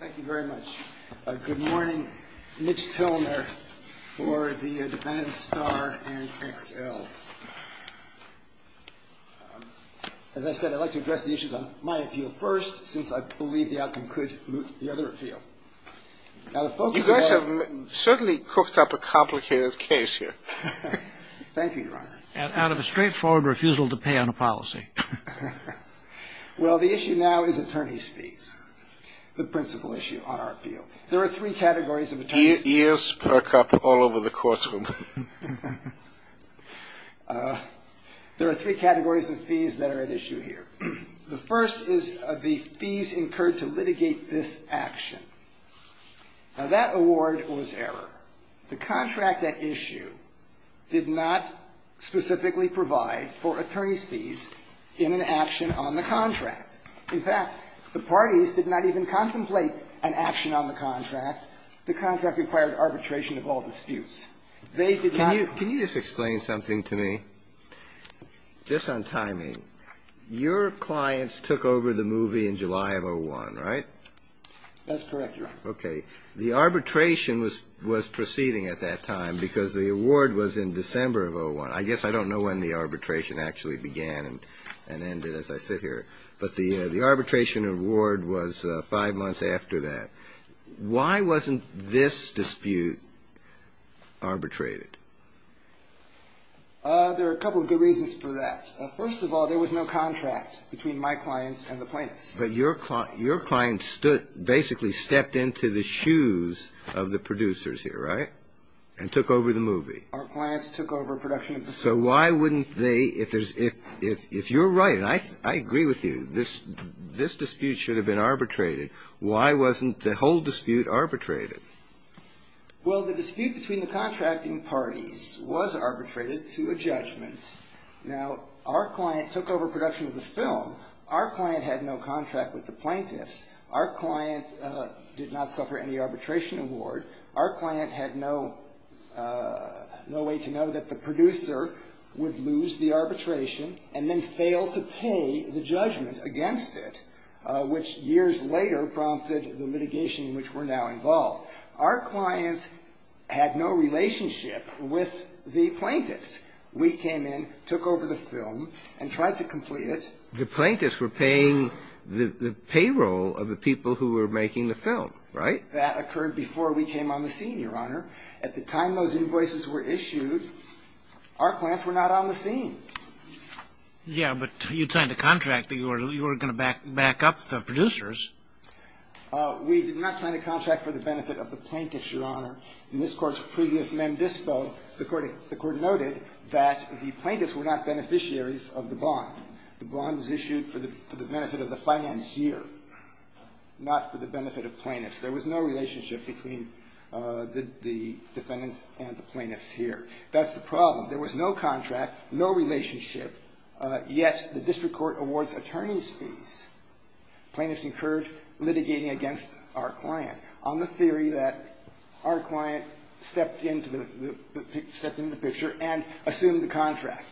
Thank you very much. Good morning. Mitch Tilner for the Defendant's Star and XL. As I said, I'd like to address the issues on my appeal first, since I believe the outcome could moot the other appeal. You guys have certainly cooked up a complicated case here. Thank you, Your Honor. And out of a straightforward refusal to pay on a policy. Well, the issue now is attorney's fees, the principal issue on our appeal. There are three categories of attorney's fees. Ears perk up all over the courtroom. There are three categories of fees that are at issue here. The first is the fees incurred to litigate this action. Now, that award was error. The contract at issue did not specifically provide for attorney's fees in an action on the contract. In fact, the parties did not even contemplate an action on the contract. The contract required arbitration of all disputes. They did not. Can you just explain something to me? Just on timing, your clients took over the movie in July of 2001, right? That's correct, Your Honor. Okay. The arbitration was proceeding at that time because the award was in December of 2001. I guess I don't know when the arbitration actually began and ended as I sit here. But the arbitration award was five months after that. Why wasn't this dispute arbitrated? There are a couple of good reasons for that. First of all, there was no contract between my clients and the plaintiffs. But your clients basically stepped into the shoes of the producers here, right, and took over the movie. Our clients took over production of the film. So why wouldn't they, if you're right, and I agree with you, this dispute should have been arbitrated. Why wasn't the whole dispute arbitrated? Well, the dispute between the contracting parties was arbitrated to a judgment. Now, our client took over production of the film. Our client had no contract with the plaintiffs. Our client did not suffer any arbitration award. Our client had no way to know that the producer would lose the arbitration and then fail to pay the judgment against it, which years later prompted the litigation in which we're now involved. Our clients had no relationship with the plaintiffs. We came in, took over the film, and tried to complete it. But the plaintiffs were paying the payroll of the people who were making the film, right? That occurred before we came on the scene, Your Honor. At the time those invoices were issued, our clients were not on the scene. Yeah, but you signed a contract that you were going to back up the producers. We did not sign a contract for the benefit of the plaintiffs, Your Honor. In this Court's previous mem dispo, the Court noted that the plaintiffs were not beneficiaries of the bond. The bond was issued for the benefit of the financier, not for the benefit of plaintiffs. There was no relationship between the defendants and the plaintiffs here. That's the problem. There was no contract, no relationship, yet the district court awards attorneys' fees. Plaintiffs incurred litigating against our client on the theory that our client stepped into the picture and assumed the contract.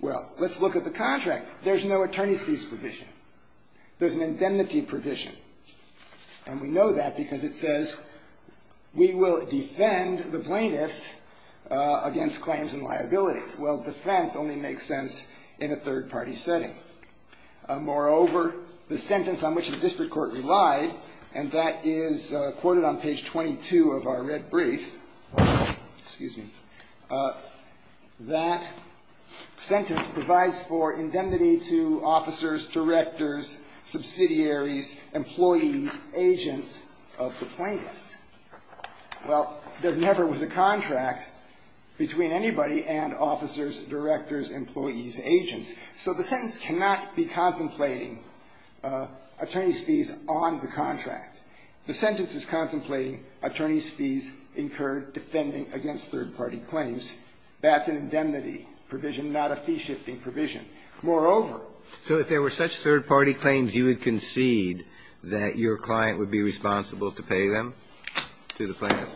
Well, let's look at the contract. There's no attorneys' fees provision. There's an indemnity provision, and we know that because it says we will defend the plaintiffs against claims and liabilities. Well, defense only makes sense in a third-party setting. Moreover, the sentence on which the district court relied, and that is quoted on page 22 of our red brief. Excuse me. That sentence provides for indemnity to officers, directors, subsidiaries, employees, agents of the plaintiffs. Well, there never was a contract between anybody and officers, directors, employees, agents. So the sentence cannot be contemplating attorneys' fees on the contract. The sentence is contemplating attorneys' fees incurred defending against third-party claims. That's an indemnity provision, not a fee-shifting provision. Moreover. So if there were such third-party claims, you would concede that your client would be responsible to pay them to the plaintiffs?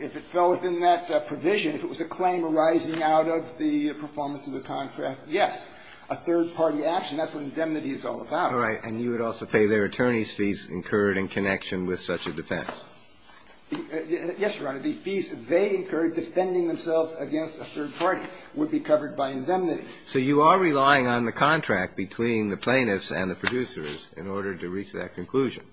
If it fell within that provision, if it was a claim arising out of the performance of the contract, yes. A third-party action, that's what indemnity is all about. All right. And you would also pay their attorneys' fees incurred in connection with such a defense? Yes, Your Honor. The fees they incurred defending themselves against a third party would be covered by indemnity. So you are relying on the contract between the plaintiffs and the producers in order to reach that conclusion?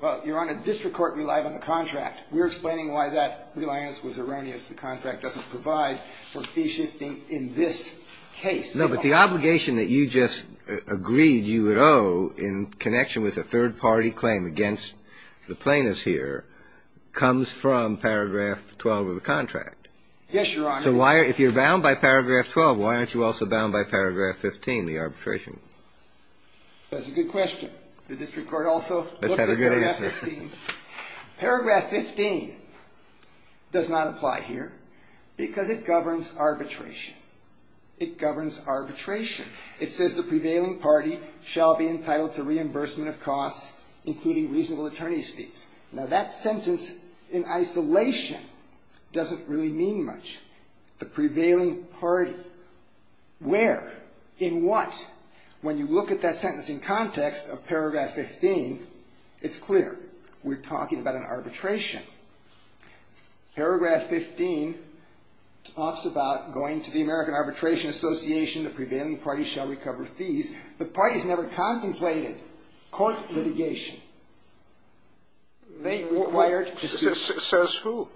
Well, Your Honor, district court relied on the contract. We're explaining why that reliance was erroneous. The contract doesn't provide for fee-shifting in this case. No, but the obligation that you just agreed you would owe in connection with a third-party claim against the plaintiffs here comes from paragraph 12 of the contract. Yes, Your Honor. So if you're bound by paragraph 12, why aren't you also bound by paragraph 15, the arbitration? That's a good question. The district court also looked at paragraph 15. Let's have a good answer. Paragraph 15 does not apply here because it governs arbitration. It governs arbitration. It says the prevailing party shall be entitled to reimbursement of costs, including reasonable attorney's fees. Now, that sentence in isolation doesn't really mean much. The prevailing party, where, in what? When you look at that sentence in context of paragraph 15, it's clear. We're talking about an arbitration. Paragraph 15 talks about going to the American Arbitration Association. The prevailing party shall recover fees. The parties never contemplated court litigation. They required disputes. Says who?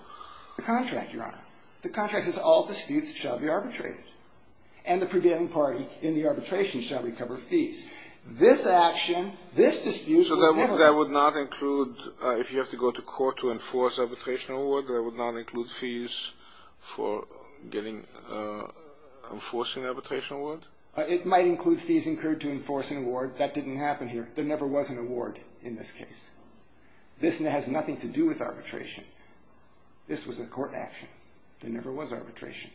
The contract, Your Honor. The contract says all disputes shall be arbitrated. And the prevailing party in the arbitration shall recover fees. This action, this dispute was handled. That would not include, if you have to go to court to enforce arbitration award, that would not include fees for getting, enforcing arbitration award? It might include fees incurred to enforce an award. That didn't happen here. There never was an award in this case. This has nothing to do with arbitration. This was a court action. There never was arbitration.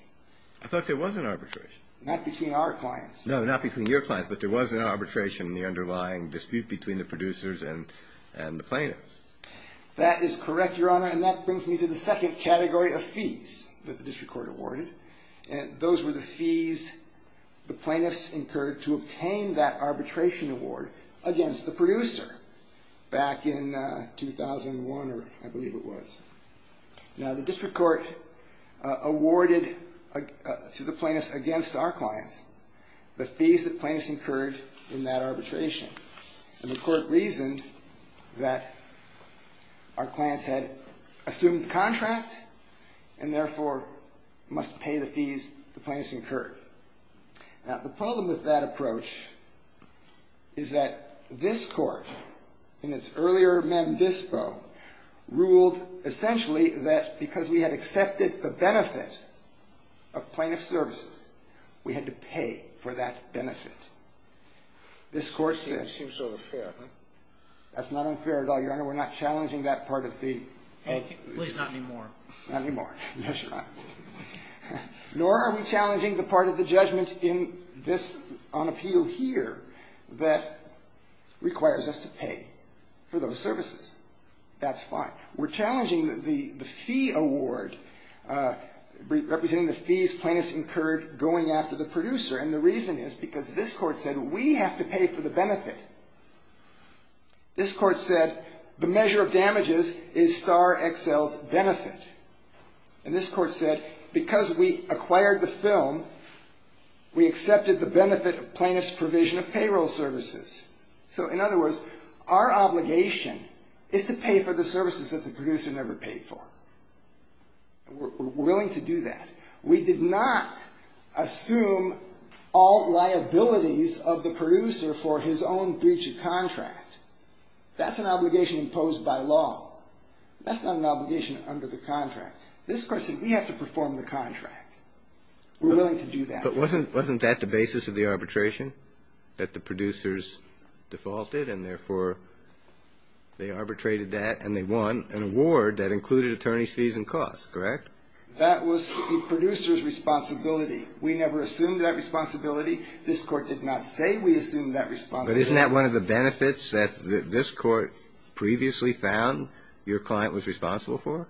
I thought there was an arbitration. Not between our clients. No, not between your clients. But there was an arbitration in the underlying dispute between the producers and the plaintiffs. That is correct, Your Honor. And that brings me to the second category of fees that the district court awarded. And those were the fees the plaintiffs incurred to obtain that arbitration award against the producer back in 2001, or I believe it was. Now, the district court awarded to the plaintiffs against our clients the fees that plaintiffs incurred in that arbitration. And the court reasoned that our clients had assumed the contract and, therefore, must pay the fees the plaintiffs incurred. Now, the problem with that approach is that this court, in its earlier membispo, ruled essentially that because we had accepted the benefit of plaintiff services, we had to pay for that benefit. This court said... Seems sort of fair, huh? That's not unfair at all, Your Honor. We're not challenging that part of the... At least not anymore. Not anymore. That's right. Nor are we challenging the part of the judgment in this, on appeal here, that requires us to pay for those services. That's fine. We're challenging the fee award, representing the fees plaintiffs incurred going after the producer. And the reason is because this court said we have to pay for the benefit. This court said the measure of damages is star XL's benefit. And this court said because we acquired the film, we accepted the benefit of plaintiff's provision of payroll services. So, in other words, our obligation is to pay for the services that the producer never paid for. We're willing to do that. We did not assume all liabilities of the producer for his own breach of contract. That's an obligation imposed by law. That's not an obligation under the contract. This court said we have to perform the contract. We're willing to do that. But wasn't that the basis of the arbitration? That the producers defaulted and, therefore, they arbitrated that and they won an award that included attorney's fees and costs, correct? That was the producer's responsibility. We never assumed that responsibility. This court did not say we assumed that responsibility. But isn't that one of the benefits that this court previously found your client was responsible for?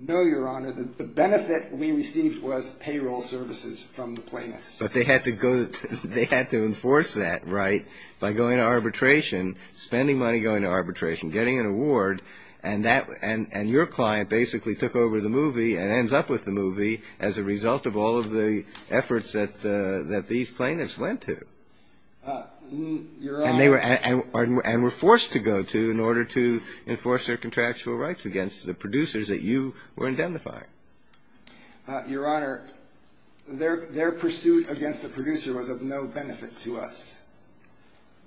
No, Your Honor. The benefit we received was payroll services from the plaintiffs. But they had to go to ‑‑ they had to enforce that, right, by going to arbitration, spending money going to arbitration, getting an award, and that ‑‑ and your client basically took over the movie and ends up with the movie as a result of all of the efforts that these plaintiffs went to. And they were ‑‑ and were forced to go to in order to enforce their contractual rights against the producers that you were indemnifying. Your Honor, their pursuit against the producer was of no benefit to us.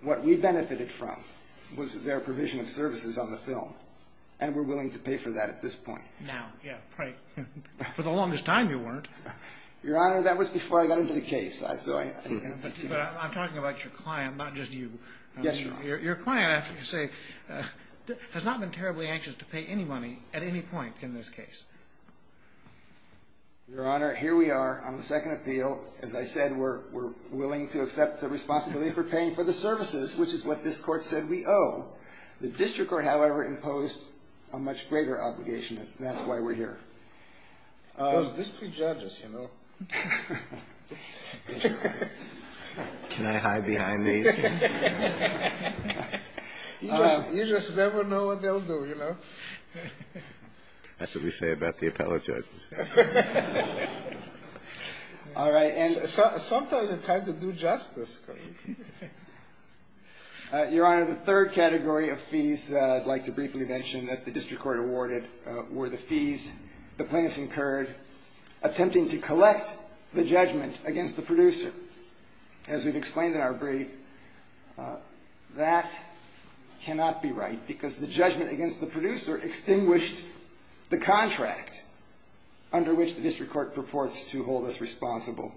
What we benefited from was their provision of services on the film. And we're willing to pay for that at this point. Now. Yeah. Right. For the longest time you weren't. Your Honor, that was before I got into the case. But I'm talking about your client, not just you. Yes, Your Honor. Your client, I have to say, has not been terribly anxious to pay any money at any point in this case. Your Honor, here we are on the second appeal. As I said, we're willing to accept the responsibility for paying for the services, which is what this court said we owe. The district court, however, imposed a much greater obligation, and that's why we're here. Those district judges, you know. Can I hide behind these? You just never know what they'll do, you know. That's what we say about the appellate judges. All right. And sometimes it's hard to do justice. Your Honor, the third category of fees I'd like to briefly mention that the district court awarded were the fees the plaintiffs incurred attempting to collect the judgment against the producer. As we've explained in our brief, that cannot be right because the judgment against the producer extinguished the contract under which the district court purports to hold us responsible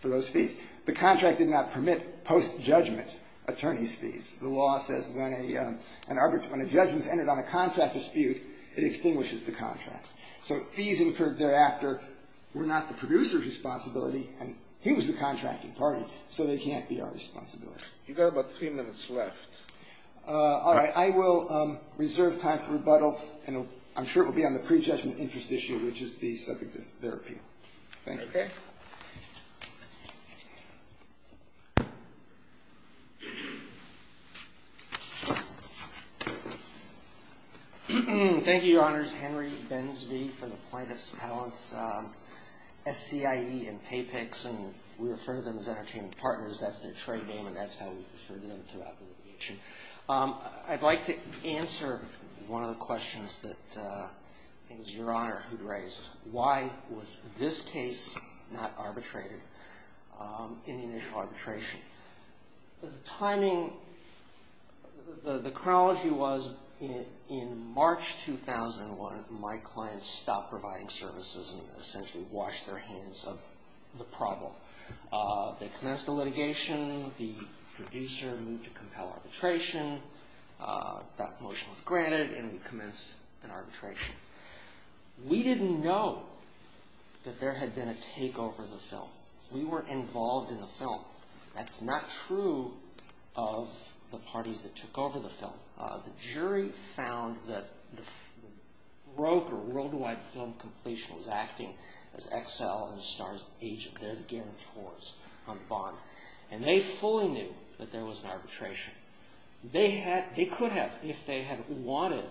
for those fees. The contract did not permit post-judgment attorney's fees. The law says when a judgment is entered on a contract dispute, it extinguishes the contract. So fees incurred thereafter were not the producer's responsibility, and he was the contracting party, so they can't be our responsibility. You've got about three minutes left. All right. I will reserve time for rebuttal, and I'm sure it will be on the pre-judgment interest issue, which is the subject of their appeal. Thank you. Okay. Thank you, Your Honors. Henry Bensby for the Plaintiffs' Appellants SCIE and PayPix, and we refer to them as entertainment partners. That's their trade name, and that's how we refer to them throughout the litigation. I'd like to answer one of the questions that it was Your Honor who raised. Why was this case not arbitrated in the initial arbitration? The timing, the chronology was in March 2001, my clients stopped providing services and essentially washed their hands of the problem. They commenced the litigation. The producer moved to compel arbitration. That motion was granted, and we commenced an arbitration. We didn't know that there had been a takeover of the film. We were involved in the film. That's not true of the parties that took over the film. The jury found that the broker, Worldwide Film Completion, was acting as Excel and Star's agent. They're the guarantors on the bond, and they fully knew that there was an arbitration. They could have, if they had wanted,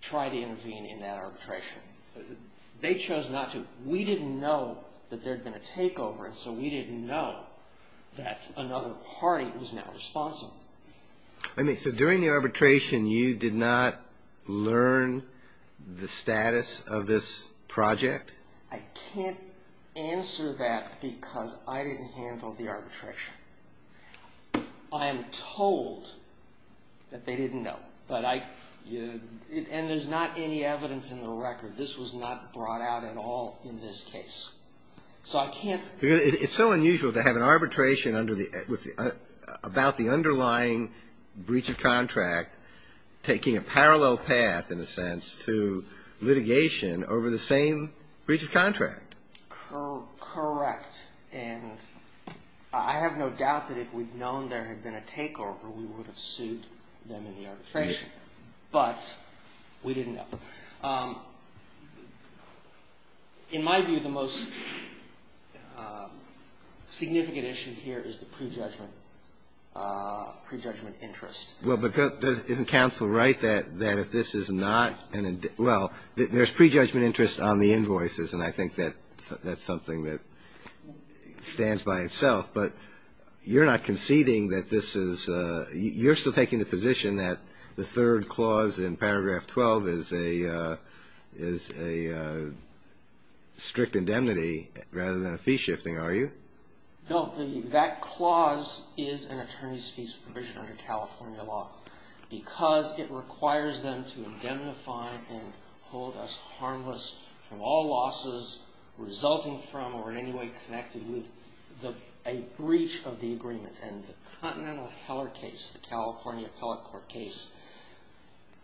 tried to intervene in that arbitration. They chose not to. We didn't know that there had been a takeover, and so we didn't know that another party was now responsible. So during the arbitration, you did not learn the status of this project? I can't answer that because I didn't handle the arbitration. I am told that they didn't know, and there's not any evidence in the record. This was not brought out at all in this case. It's so unusual to have an arbitration about the underlying breach of contract taking a parallel path, in a sense, to litigation over the same breach of contract. Correct, and I have no doubt that if we'd known there had been a takeover, we would have sued them in the arbitration, but we didn't know. In my view, the most significant issue here is the prejudgment, prejudgment interest. Well, but isn't counsel right that if this is not an, well, there's prejudgment interest on the invoices, and I think that that's something that stands by itself, but you're not conceding that this is, you're still taking the position that the third clause in paragraph 12 is a strict indemnity rather than a fee shifting, are you? No, that clause is an attorney's fees provision under California law because it requires them to indemnify and hold us harmless from all losses resulting from or in any way connected with a breach of the agreement. And the Continental Heller case, the California appellate court case,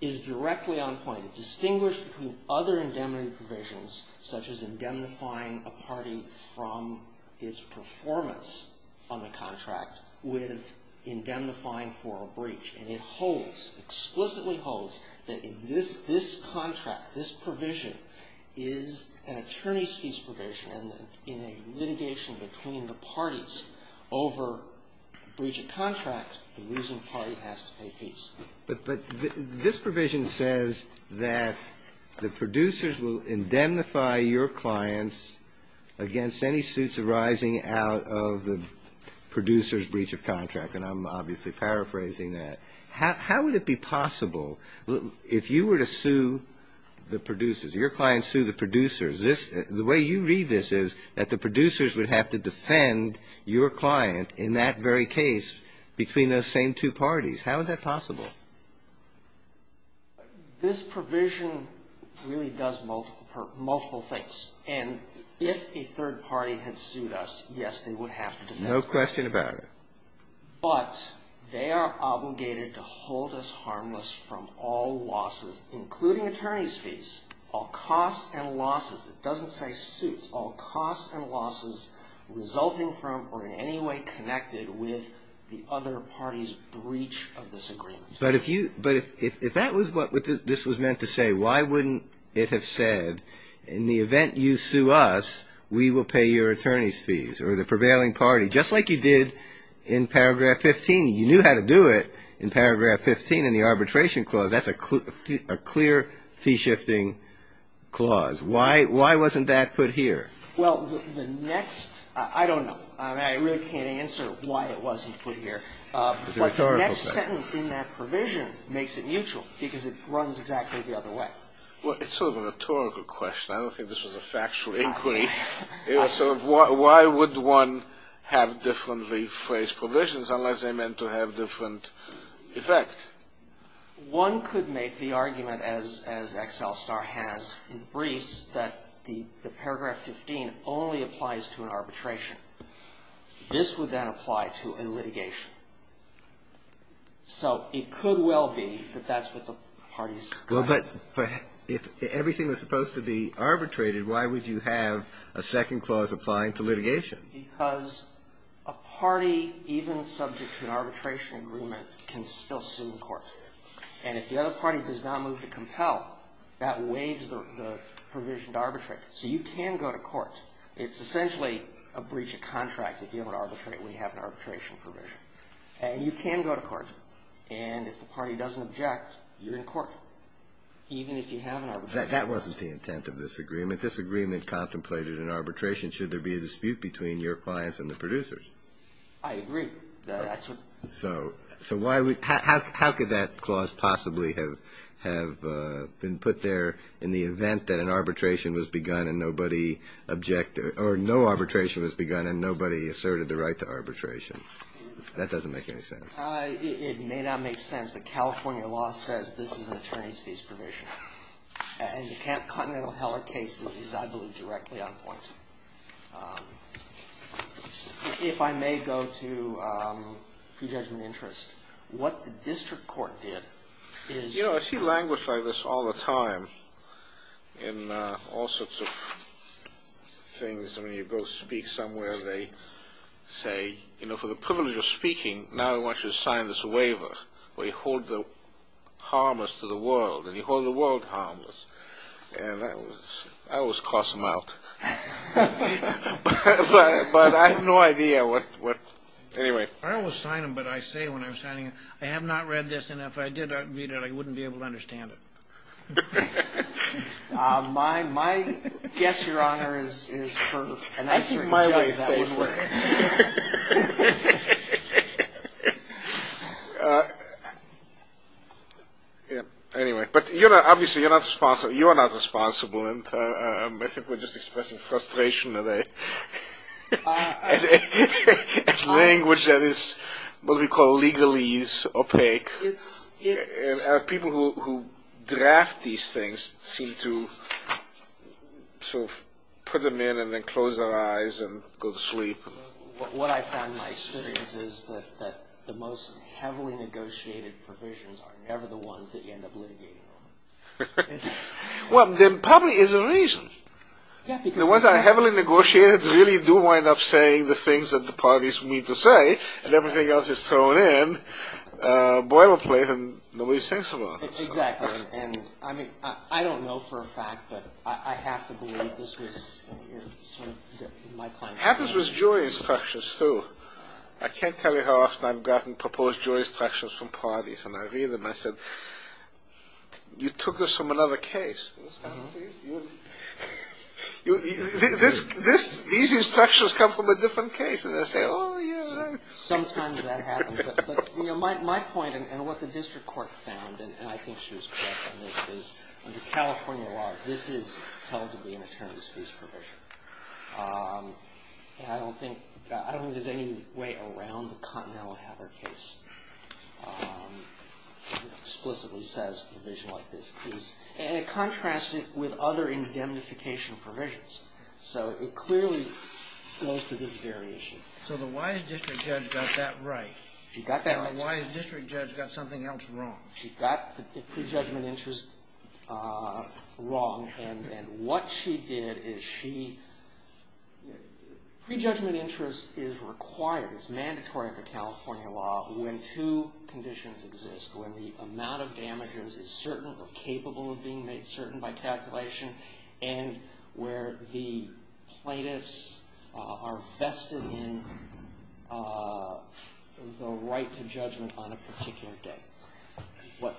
is directly on point. It distinguished from other indemnity provisions, such as indemnifying a party from its performance on the contract with indemnifying for a breach. And it holds, explicitly holds, that in this, this contract, this provision is an attorney's fees provision, and in a litigation between the parties over breach of contract, the losing party has to pay fees. But this provision says that the producers will indemnify your clients against any suits arising out of the producer's breach of contract, and I'm obviously paraphrasing that. How would it be possible, if you were to sue the producers, your clients sue the producers, this, the way you read this is that the producers would have to defend your client in that very case between those same two parties. How is that possible? This provision really does multiple, multiple things. And if a third party had sued us, yes, they would have to defend us. No question about it. But they are obligated to hold us harmless from all losses, including attorney's fees. All costs and losses. It doesn't say suits. All costs and losses resulting from or in any way connected with the other party's breach of this agreement. But if you, but if that was what this was meant to say, why wouldn't it have said, in the event you sue us, we will pay your attorney's fees, or the prevailing party. Just like you did in paragraph 15. You knew how to do it in paragraph 15 in the arbitration clause. That's a clear fee shifting clause. Why wasn't that put here? Well, the next, I don't know. I really can't answer why it wasn't put here. But the next sentence in that provision makes it mutual because it runs exactly the other way. Well, it's sort of a rhetorical question. I don't think this was a factual inquiry. So why would one have differently phrased provisions unless they meant to have different effect? One could make the argument, as XL Star has in briefs, that the paragraph 15 only applies to an arbitration. This would then apply to a litigation. So it could well be that that's what the parties. Well, but if everything was supposed to be arbitrated, why would you have a second clause applying to litigation? Because a party, even subject to an arbitration agreement, can still sue in court. And if the other party does not move to compel, that waives the provision to arbitrate. So you can go to court. It's essentially a breach of contract if you have an arbitration provision. And you can go to court. And if the party doesn't object, you're in court, even if you have an arbitration provision. That wasn't the intent of this agreement. This agreement contemplated an arbitration should there be a dispute between your clients and the producers. I agree. So how could that clause possibly have been put there in the event that an arbitration was begun and nobody objected or no arbitration was begun and nobody asserted the right to arbitration? That doesn't make any sense. It may not make sense. But California law says this is an attorney's fees provision. And you can't continental hell or case it. It is, I believe, directly on point. If I may go to prejudgment interest. What the district court did is ---- You know, I see language like this all the time in all sorts of things. I mean, you go speak somewhere, they say, you know, for the privilege of speaking, now I want you to sign this waiver where you hold the harmless to the world. And you hold the world harmless. And that was ---- I always cross them out. But I have no idea what ---- anyway. I don't want to sign them, but I say when I'm signing them, I have not read this. And if I did read it, I wouldn't be able to understand it. My guess, Your Honor, is for a nicer judge that would work. I think my way is safer. Anyway. But, you know, obviously you're not responsible. And I think we're just expressing frustration today. Language that is what we call legalese, opaque. And people who draft these things seem to sort of put them in and then close their eyes and go to sleep. What I found in my experience is that the most heavily negotiated provisions are never the ones that you end up litigating on. Well, then probably there's a reason. The ones that are heavily negotiated really do wind up saying the things that the parties need to say. And everything else is thrown in. Boilerplate and nobody sings about it. Exactly. And I mean, I don't know for a fact, but I have to believe this was sort of my client's. Happens with jury instructions, too. I can't tell you how often I've gotten proposed jury instructions from parties. And I read them. I said, you took this from another case. These instructions come from a different case. And they say, oh, yeah. Sometimes that happens. But, you know, my point and what the district court found, and I think she was correct on this, is under California law, this is held to be an attorney's fees provision. And I don't think there's any way around the Continental Hatter case that explicitly says a provision like this is. And it contrasts it with other indemnification provisions. So it clearly goes to this very issue. So the wise district judge got that right. She got that right. The wise district judge got something else wrong. She got the prejudgment interest wrong. And what she did is she... Prejudgment interest is required. It's mandatory under California law when two conditions exist. When the amount of damages is certain or capable of being made certain by calculation. And where the plaintiffs are vested in the right to judgment on a particular day. What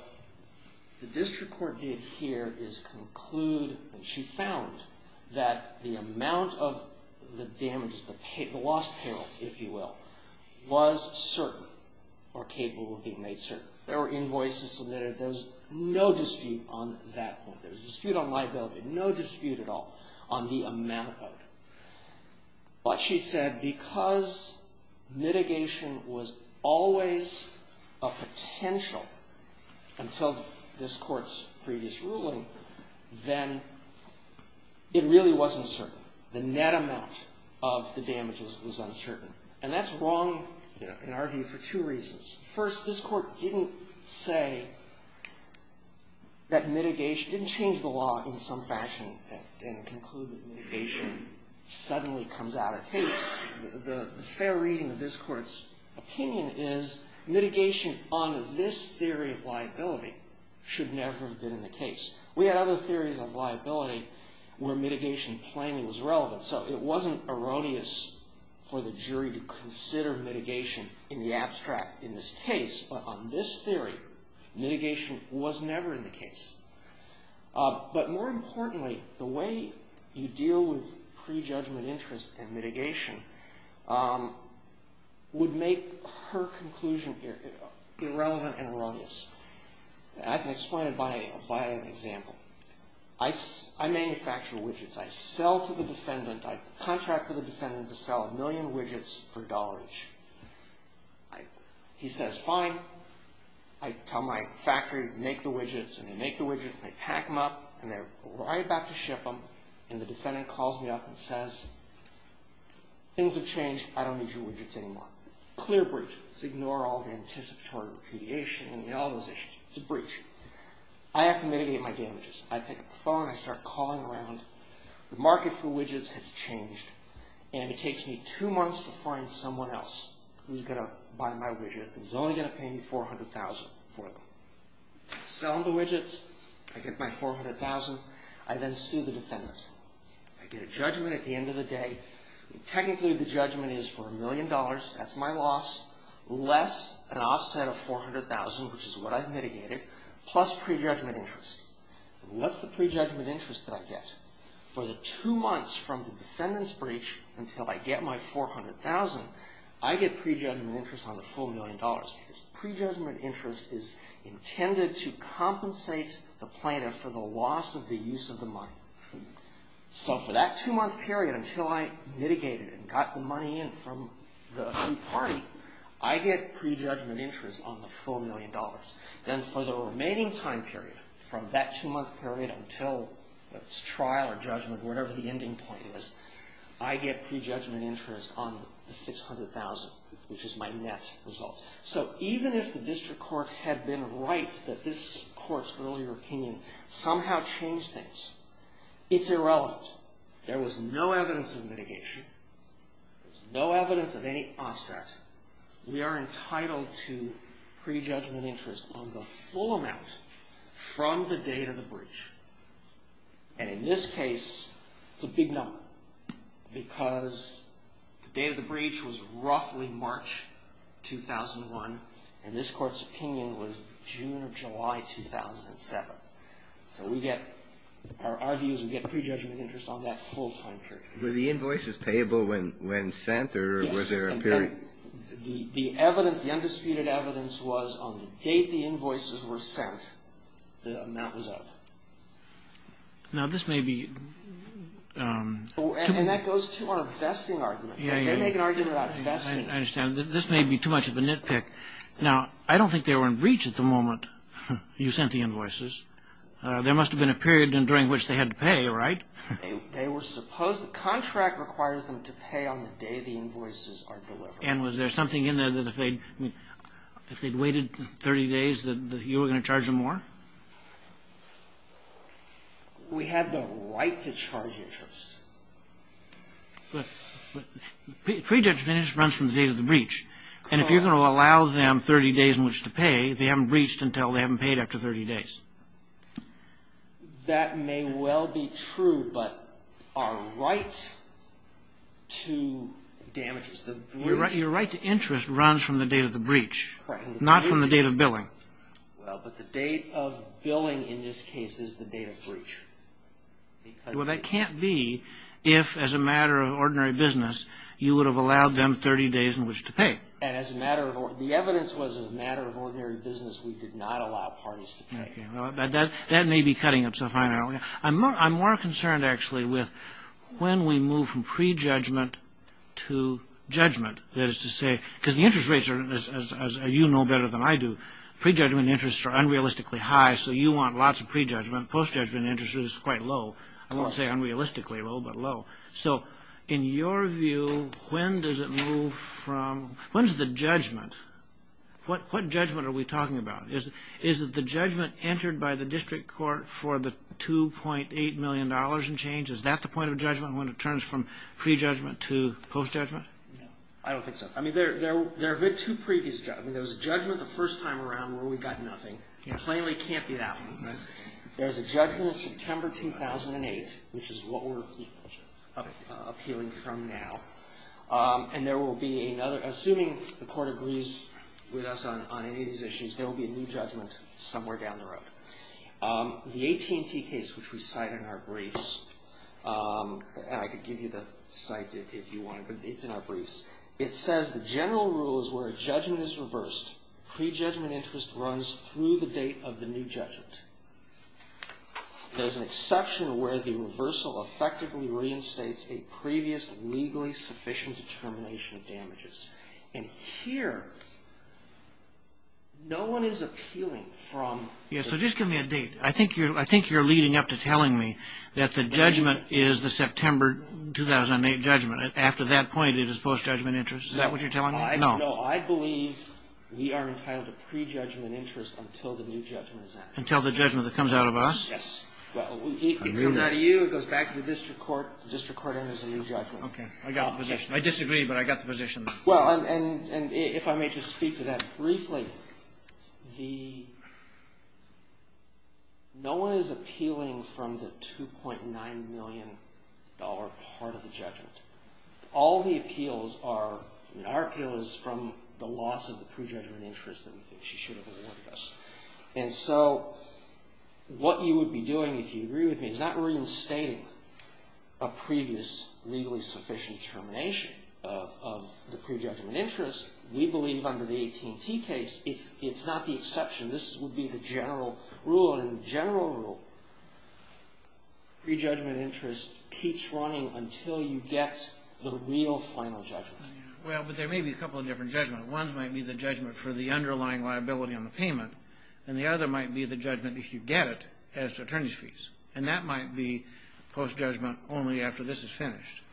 the district court did here is conclude... She found that the amount of the damages, the lost payroll, if you will, was certain or capable of being made certain. There were invoices submitted. There was no dispute on that point. There was a dispute on liability. No dispute at all on the amount of money. But she said because mitigation was always a potential until this Court's previous ruling, then it really wasn't certain. The net amount of the damages was uncertain. And that's wrong in our view for two reasons. First, this Court didn't say that mitigation... The fair reading of this Court's opinion is mitigation on this theory of liability should never have been in the case. We had other theories of liability where mitigation plainly was relevant. So it wasn't erroneous for the jury to consider mitigation in the abstract in this case. But on this theory, mitigation was never in the case. But more importantly, the way you deal with prejudgment interest and mitigation would make her conclusion irrelevant and erroneous. I can explain it by an example. I manufacture widgets. I sell to the defendant. I contract with the defendant to sell a million widgets for dollars. He says, fine. I tell my factory to make the widgets. And they make the widgets. And they pack them up. And they're right about to ship them. And the defendant calls me up and says, things have changed. I don't need your widgets anymore. Clear breach. Ignore all the anticipatory repudiation and all those issues. It's a breach. I have to mitigate my damages. I pick up the phone. I start calling around. The market for widgets has changed. And it takes me two months to find someone else who's going to buy my widgets and is only going to pay me $400,000 for them. Sell them the widgets. I get my $400,000. I then sue the defendant. I get a judgment at the end of the day. Technically, the judgment is for a million dollars. That's my loss. Less an offset of $400,000, which is what I've mitigated, plus prejudgment interest. What's the prejudgment interest that I get? For the two months from the defendant's breach until I get my $400,000, I get prejudgment interest on the full million dollars. Prejudgment interest is intended to compensate the plaintiff for the loss of the use of the money. So for that two-month period until I mitigated and got the money in from the new party, I get prejudgment interest on the full million dollars. Then for the remaining time period, from that two-month period until trial or judgment, whatever the ending point is, I get prejudgment interest on the $600,000, which is my net result. So even if the district court had been right that this court's earlier opinion somehow changed things, it's irrelevant. There was no evidence of mitigation. There's no evidence of any offset. We are entitled to prejudgment interest on the full amount from the date of the breach. And in this case, it's a big number because the date of the breach was roughly March 2001, and this court's opinion was June or July 2007. So we get – our view is we get prejudgment interest on that full-time period. Were the invoices payable when sent, or was there a period? The evidence, the undisputed evidence was on the date the invoices were sent, the amount was up. Now, this may be – And that goes to our vesting argument. Yeah, yeah. They make an argument about vesting. I understand. This may be too much of a nitpick. Now, I don't think they were in breach at the moment you sent the invoices. There must have been a period during which they had to pay, right? They were supposed – the contract requires them to pay on the day the invoices are delivered. And was there something in there that if they'd waited 30 days that you were going to charge them more? We have the right to charge interest. But prejudgment interest runs from the date of the breach. And if you're going to allow them 30 days in which to pay, they haven't breached until they haven't paid after 30 days. That may well be true, but our right to damages – Your right to interest runs from the date of the breach. Correct. Not from the date of billing. Well, but the date of billing in this case is the date of breach. Well, that can't be if, as a matter of ordinary business, you would have allowed them 30 days in which to pay. The evidence was, as a matter of ordinary business, we did not allow parties to pay. That may be cutting itself out. I'm more concerned, actually, with when we move from prejudgment to judgment. That is to say – because the interest rates are, as you know better than I do, prejudgment interest are unrealistically high, so you want lots of prejudgment. Postjudgment interest is quite low. I won't say unrealistically low, but low. So in your view, when does it move from – when's the judgment? What judgment are we talking about? Is it the judgment entered by the district court for the $2.8 million in change? Is that the point of judgment when it turns from prejudgment to postjudgment? I don't think so. I mean, there have been two previous judgments. There was a judgment the first time around where we got nothing. Plainly can't be that one. There's a judgment September 2008, which is what we're appealing from now. And there will be another – assuming the court agrees with us on any of these issues, there will be a new judgment somewhere down the road. The AT&T case, which we cite in our briefs – and I could give you the cite if you want, but it's in our briefs – it says the general rule is where a judgment is reversed, prejudgment interest runs through the date of the new judgment. There's an exception where the reversal effectively reinstates a previous legally sufficient determination of damages. And here, no one is appealing from – So just give me a date. I think you're leading up to telling me that the judgment is the September 2008 judgment. After that point, it is postjudgment interest. Is that what you're telling me? No. No, I believe we are entitled to prejudgment interest until the new judgment is out. Until the judgment that comes out of us? Yes. Well, it comes out of you. I knew that. It goes back to the district court. The district court enters a new judgment. Okay. I got the position. I disagree, but I got the position. Well, and if I may just speak to that briefly. The – no one is appealing from the $2.9 million part of the judgment. All the appeals are – I mean, our appeal is from the loss of the prejudgment interest that we think she should have awarded us. And so what you would be doing, if you agree with me, is not reinstating a previous legally sufficient determination of the prejudgment interest. We believe under the 18T case, it's not the exception. This would be the general rule. Well, in general rule, prejudgment interest keeps running until you get the real final judgment. Well, but there may be a couple of different judgments. One might be the judgment for the underlying liability on the payment. And the other might be the judgment, if you get it, as to attorneys' fees. And that might be post-judgment only after this is finished.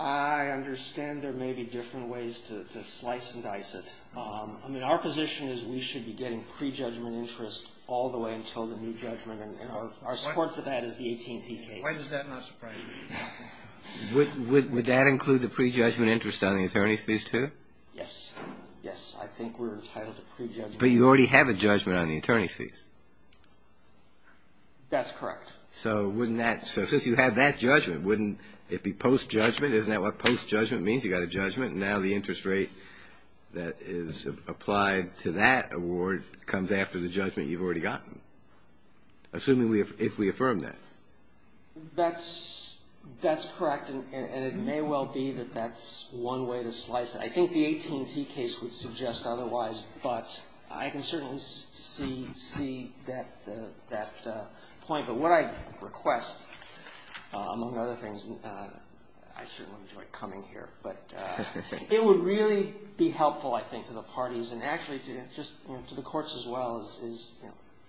I understand there may be different ways to slice and dice it. I mean, our position is we should be getting prejudgment interest all the way until the new judgment. And our support for that is the 18T case. Why does that not surprise me? Would that include the prejudgment interest on the attorney's fees, too? Yes. Yes, I think we're entitled to prejudgment. But you already have a judgment on the attorney's fees. That's correct. So wouldn't that – so since you have that judgment, wouldn't it be post-judgment? Isn't that what post-judgment means? You got a judgment. Now the interest rate that is applied to that award comes after the judgment you've already gotten. Assuming if we affirm that. That's correct. And it may well be that that's one way to slice it. I think the 18T case would suggest otherwise. But I can certainly see that point. But what I request, among other things, I certainly enjoy coming here, but it would really be helpful, I think, to the parties, and actually to the courts as well, is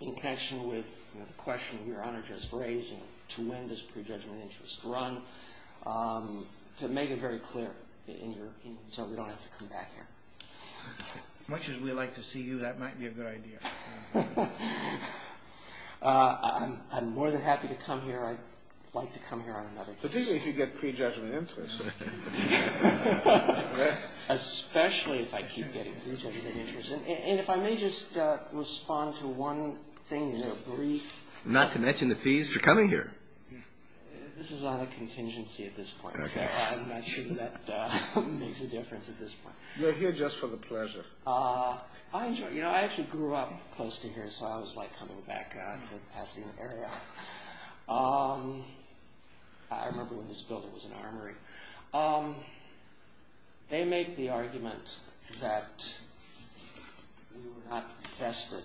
in connection with the question Your Honor just raised, to when does prejudgment interest run, to make it very clear so we don't have to come back here. Much as we like to see you, that might be a good idea. I'm more than happy to come here. I'd like to come here on another case. Particularly if you get prejudgment interest. Especially if I keep getting prejudgment interest. And if I may just respond to one thing in a brief. Not to mention the fees for coming here. This is on a contingency at this point, so I'm not sure that makes a difference at this point. You're here just for the pleasure. I actually grew up close to here, so I always like coming back to the Pasadena area. I remember when this building was an armory. They make the argument that we were not vested.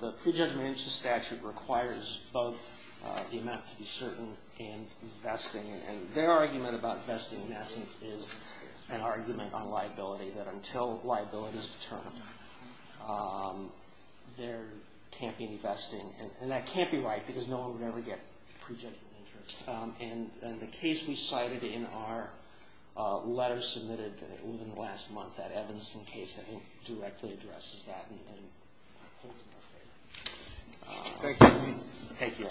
The prejudgment interest statute requires both the amount to be certain and vesting. And their argument about vesting, in essence, is an argument on liability. That until liability is determined, there can't be vesting. And that can't be right, because no one would ever get prejudgment interest. And the case we cited in our letter submitted within the last month, that Evanston case, I think directly addresses that. Thank you.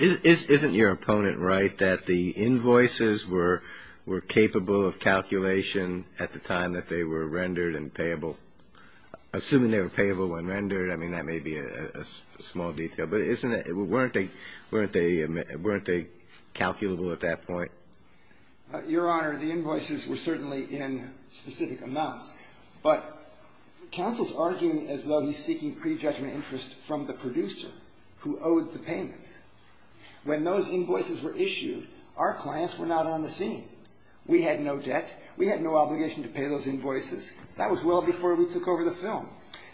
Isn't your opponent right that the invoices were capable of calculation at the time that they were rendered and payable? Assuming they were payable when rendered, I mean, that may be a small detail. But weren't they calculable at that point? Your Honor, the invoices were certainly in specific amounts. But counsel's arguing as though he's seeking prejudgment interest from the producer who owed the payments. When those invoices were issued, our clients were not on the scene. We had no debt. We had no obligation to pay those invoices. That was well before we took over the film.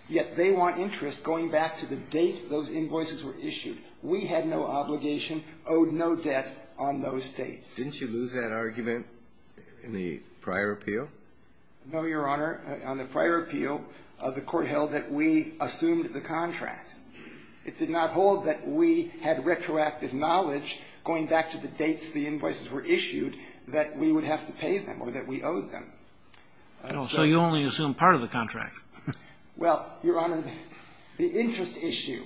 Yet they want interest going back to the date those invoices were issued. We had no obligation, owed no debt on those dates. Didn't you lose that argument in the prior appeal? No, Your Honor. On the prior appeal, the Court held that we assumed the contract. It did not hold that we had retroactive knowledge going back to the dates the invoices were issued that we would have to pay them or that we owed them. So you only assumed part of the contract. Well, Your Honor, the interest issue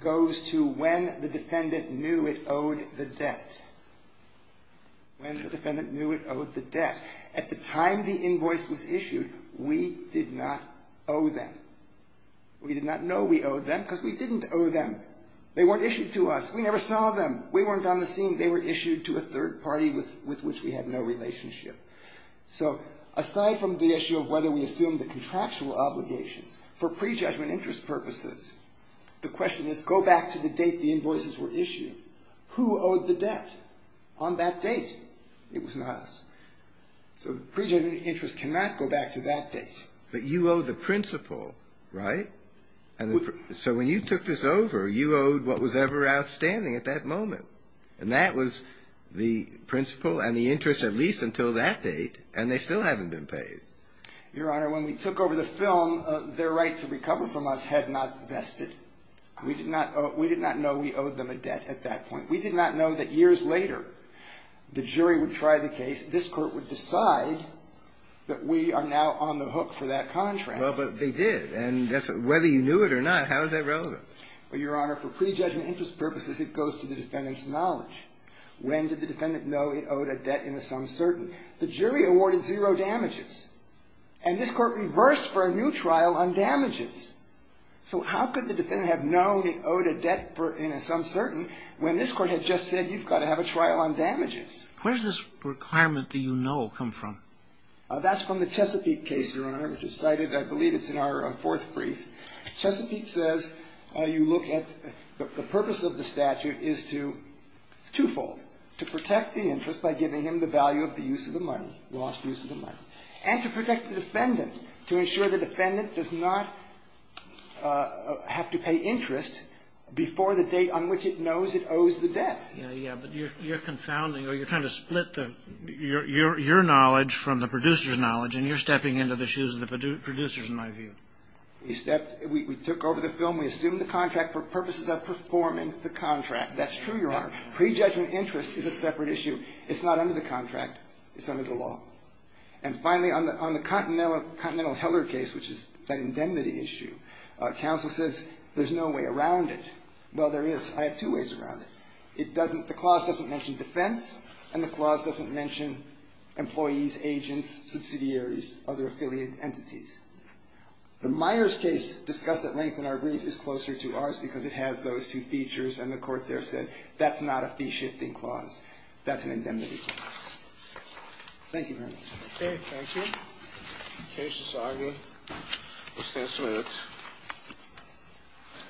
goes to when the defendant knew it owed the debt. When the defendant knew it owed the debt. At the time the invoice was issued, we did not owe them. We did not know we owed them because we didn't owe them. They weren't issued to us. We never saw them. We weren't on the scene. They were issued to a third party with which we had no relationship. So aside from the issue of whether we assumed the contractual obligations for prejudgment interest purposes, the question is go back to the date the invoices were issued. Who owed the debt on that date? It was not us. So prejudgment interest cannot go back to that date. But you owe the principal, right? So when you took this over, you owed what was ever outstanding at that moment. And that was the principal and the interest, at least until that date. And they still haven't been paid. Your Honor, when we took over the film, their right to recover from us had not vested. We did not know we owed them a debt at that point. We did not know that years later the jury would try the case. This Court would decide that we are now on the hook for that contract. Well, but they did. And whether you knew it or not, how is that relevant? Well, Your Honor, for prejudgment interest purposes, it goes to the defendant's knowledge. When did the defendant know he owed a debt in the sum certain? The jury awarded zero damages. And this Court reversed for a new trial on damages. So how could the defendant have known he owed a debt in the sum certain when this Court had just said you've got to have a trial on damages? Where does this requirement that you know come from? That's from the Chesapeake case, Your Honor, which is cited, I believe it's in our fourth brief. Chesapeake says you look at the purpose of the statute is to, twofold, to protect the interest by giving him the value of the use of the money, lost use of the money, and to protect the defendant, to ensure the defendant does not have to pay interest before the date on which it knows it owes the debt. Yeah, yeah. But you're confounding, or you're trying to split your knowledge from the producer's knowledge, and you're stepping into the shoes of the producers, in my view. We took over the film. We assumed the contract for purposes of performing the contract. That's true, Your Honor. Prejudgment interest is a separate issue. It's not under the contract. It's under the law. And finally, on the Continental Heller case, which is that indemnity issue, counsel says there's no way around it. Well, there is. I have two ways around it. It doesn't, the clause doesn't mention defense, and the clause doesn't mention employees, agents, subsidiaries, other affiliate entities. The Myers case discussed at length in our brief is closer to ours because it has those two features, and the court there said that's not a fee-shifting clause. That's an indemnity clause. Thank you very much. Okay, thank you. Case is argued. We'll stand for a minute.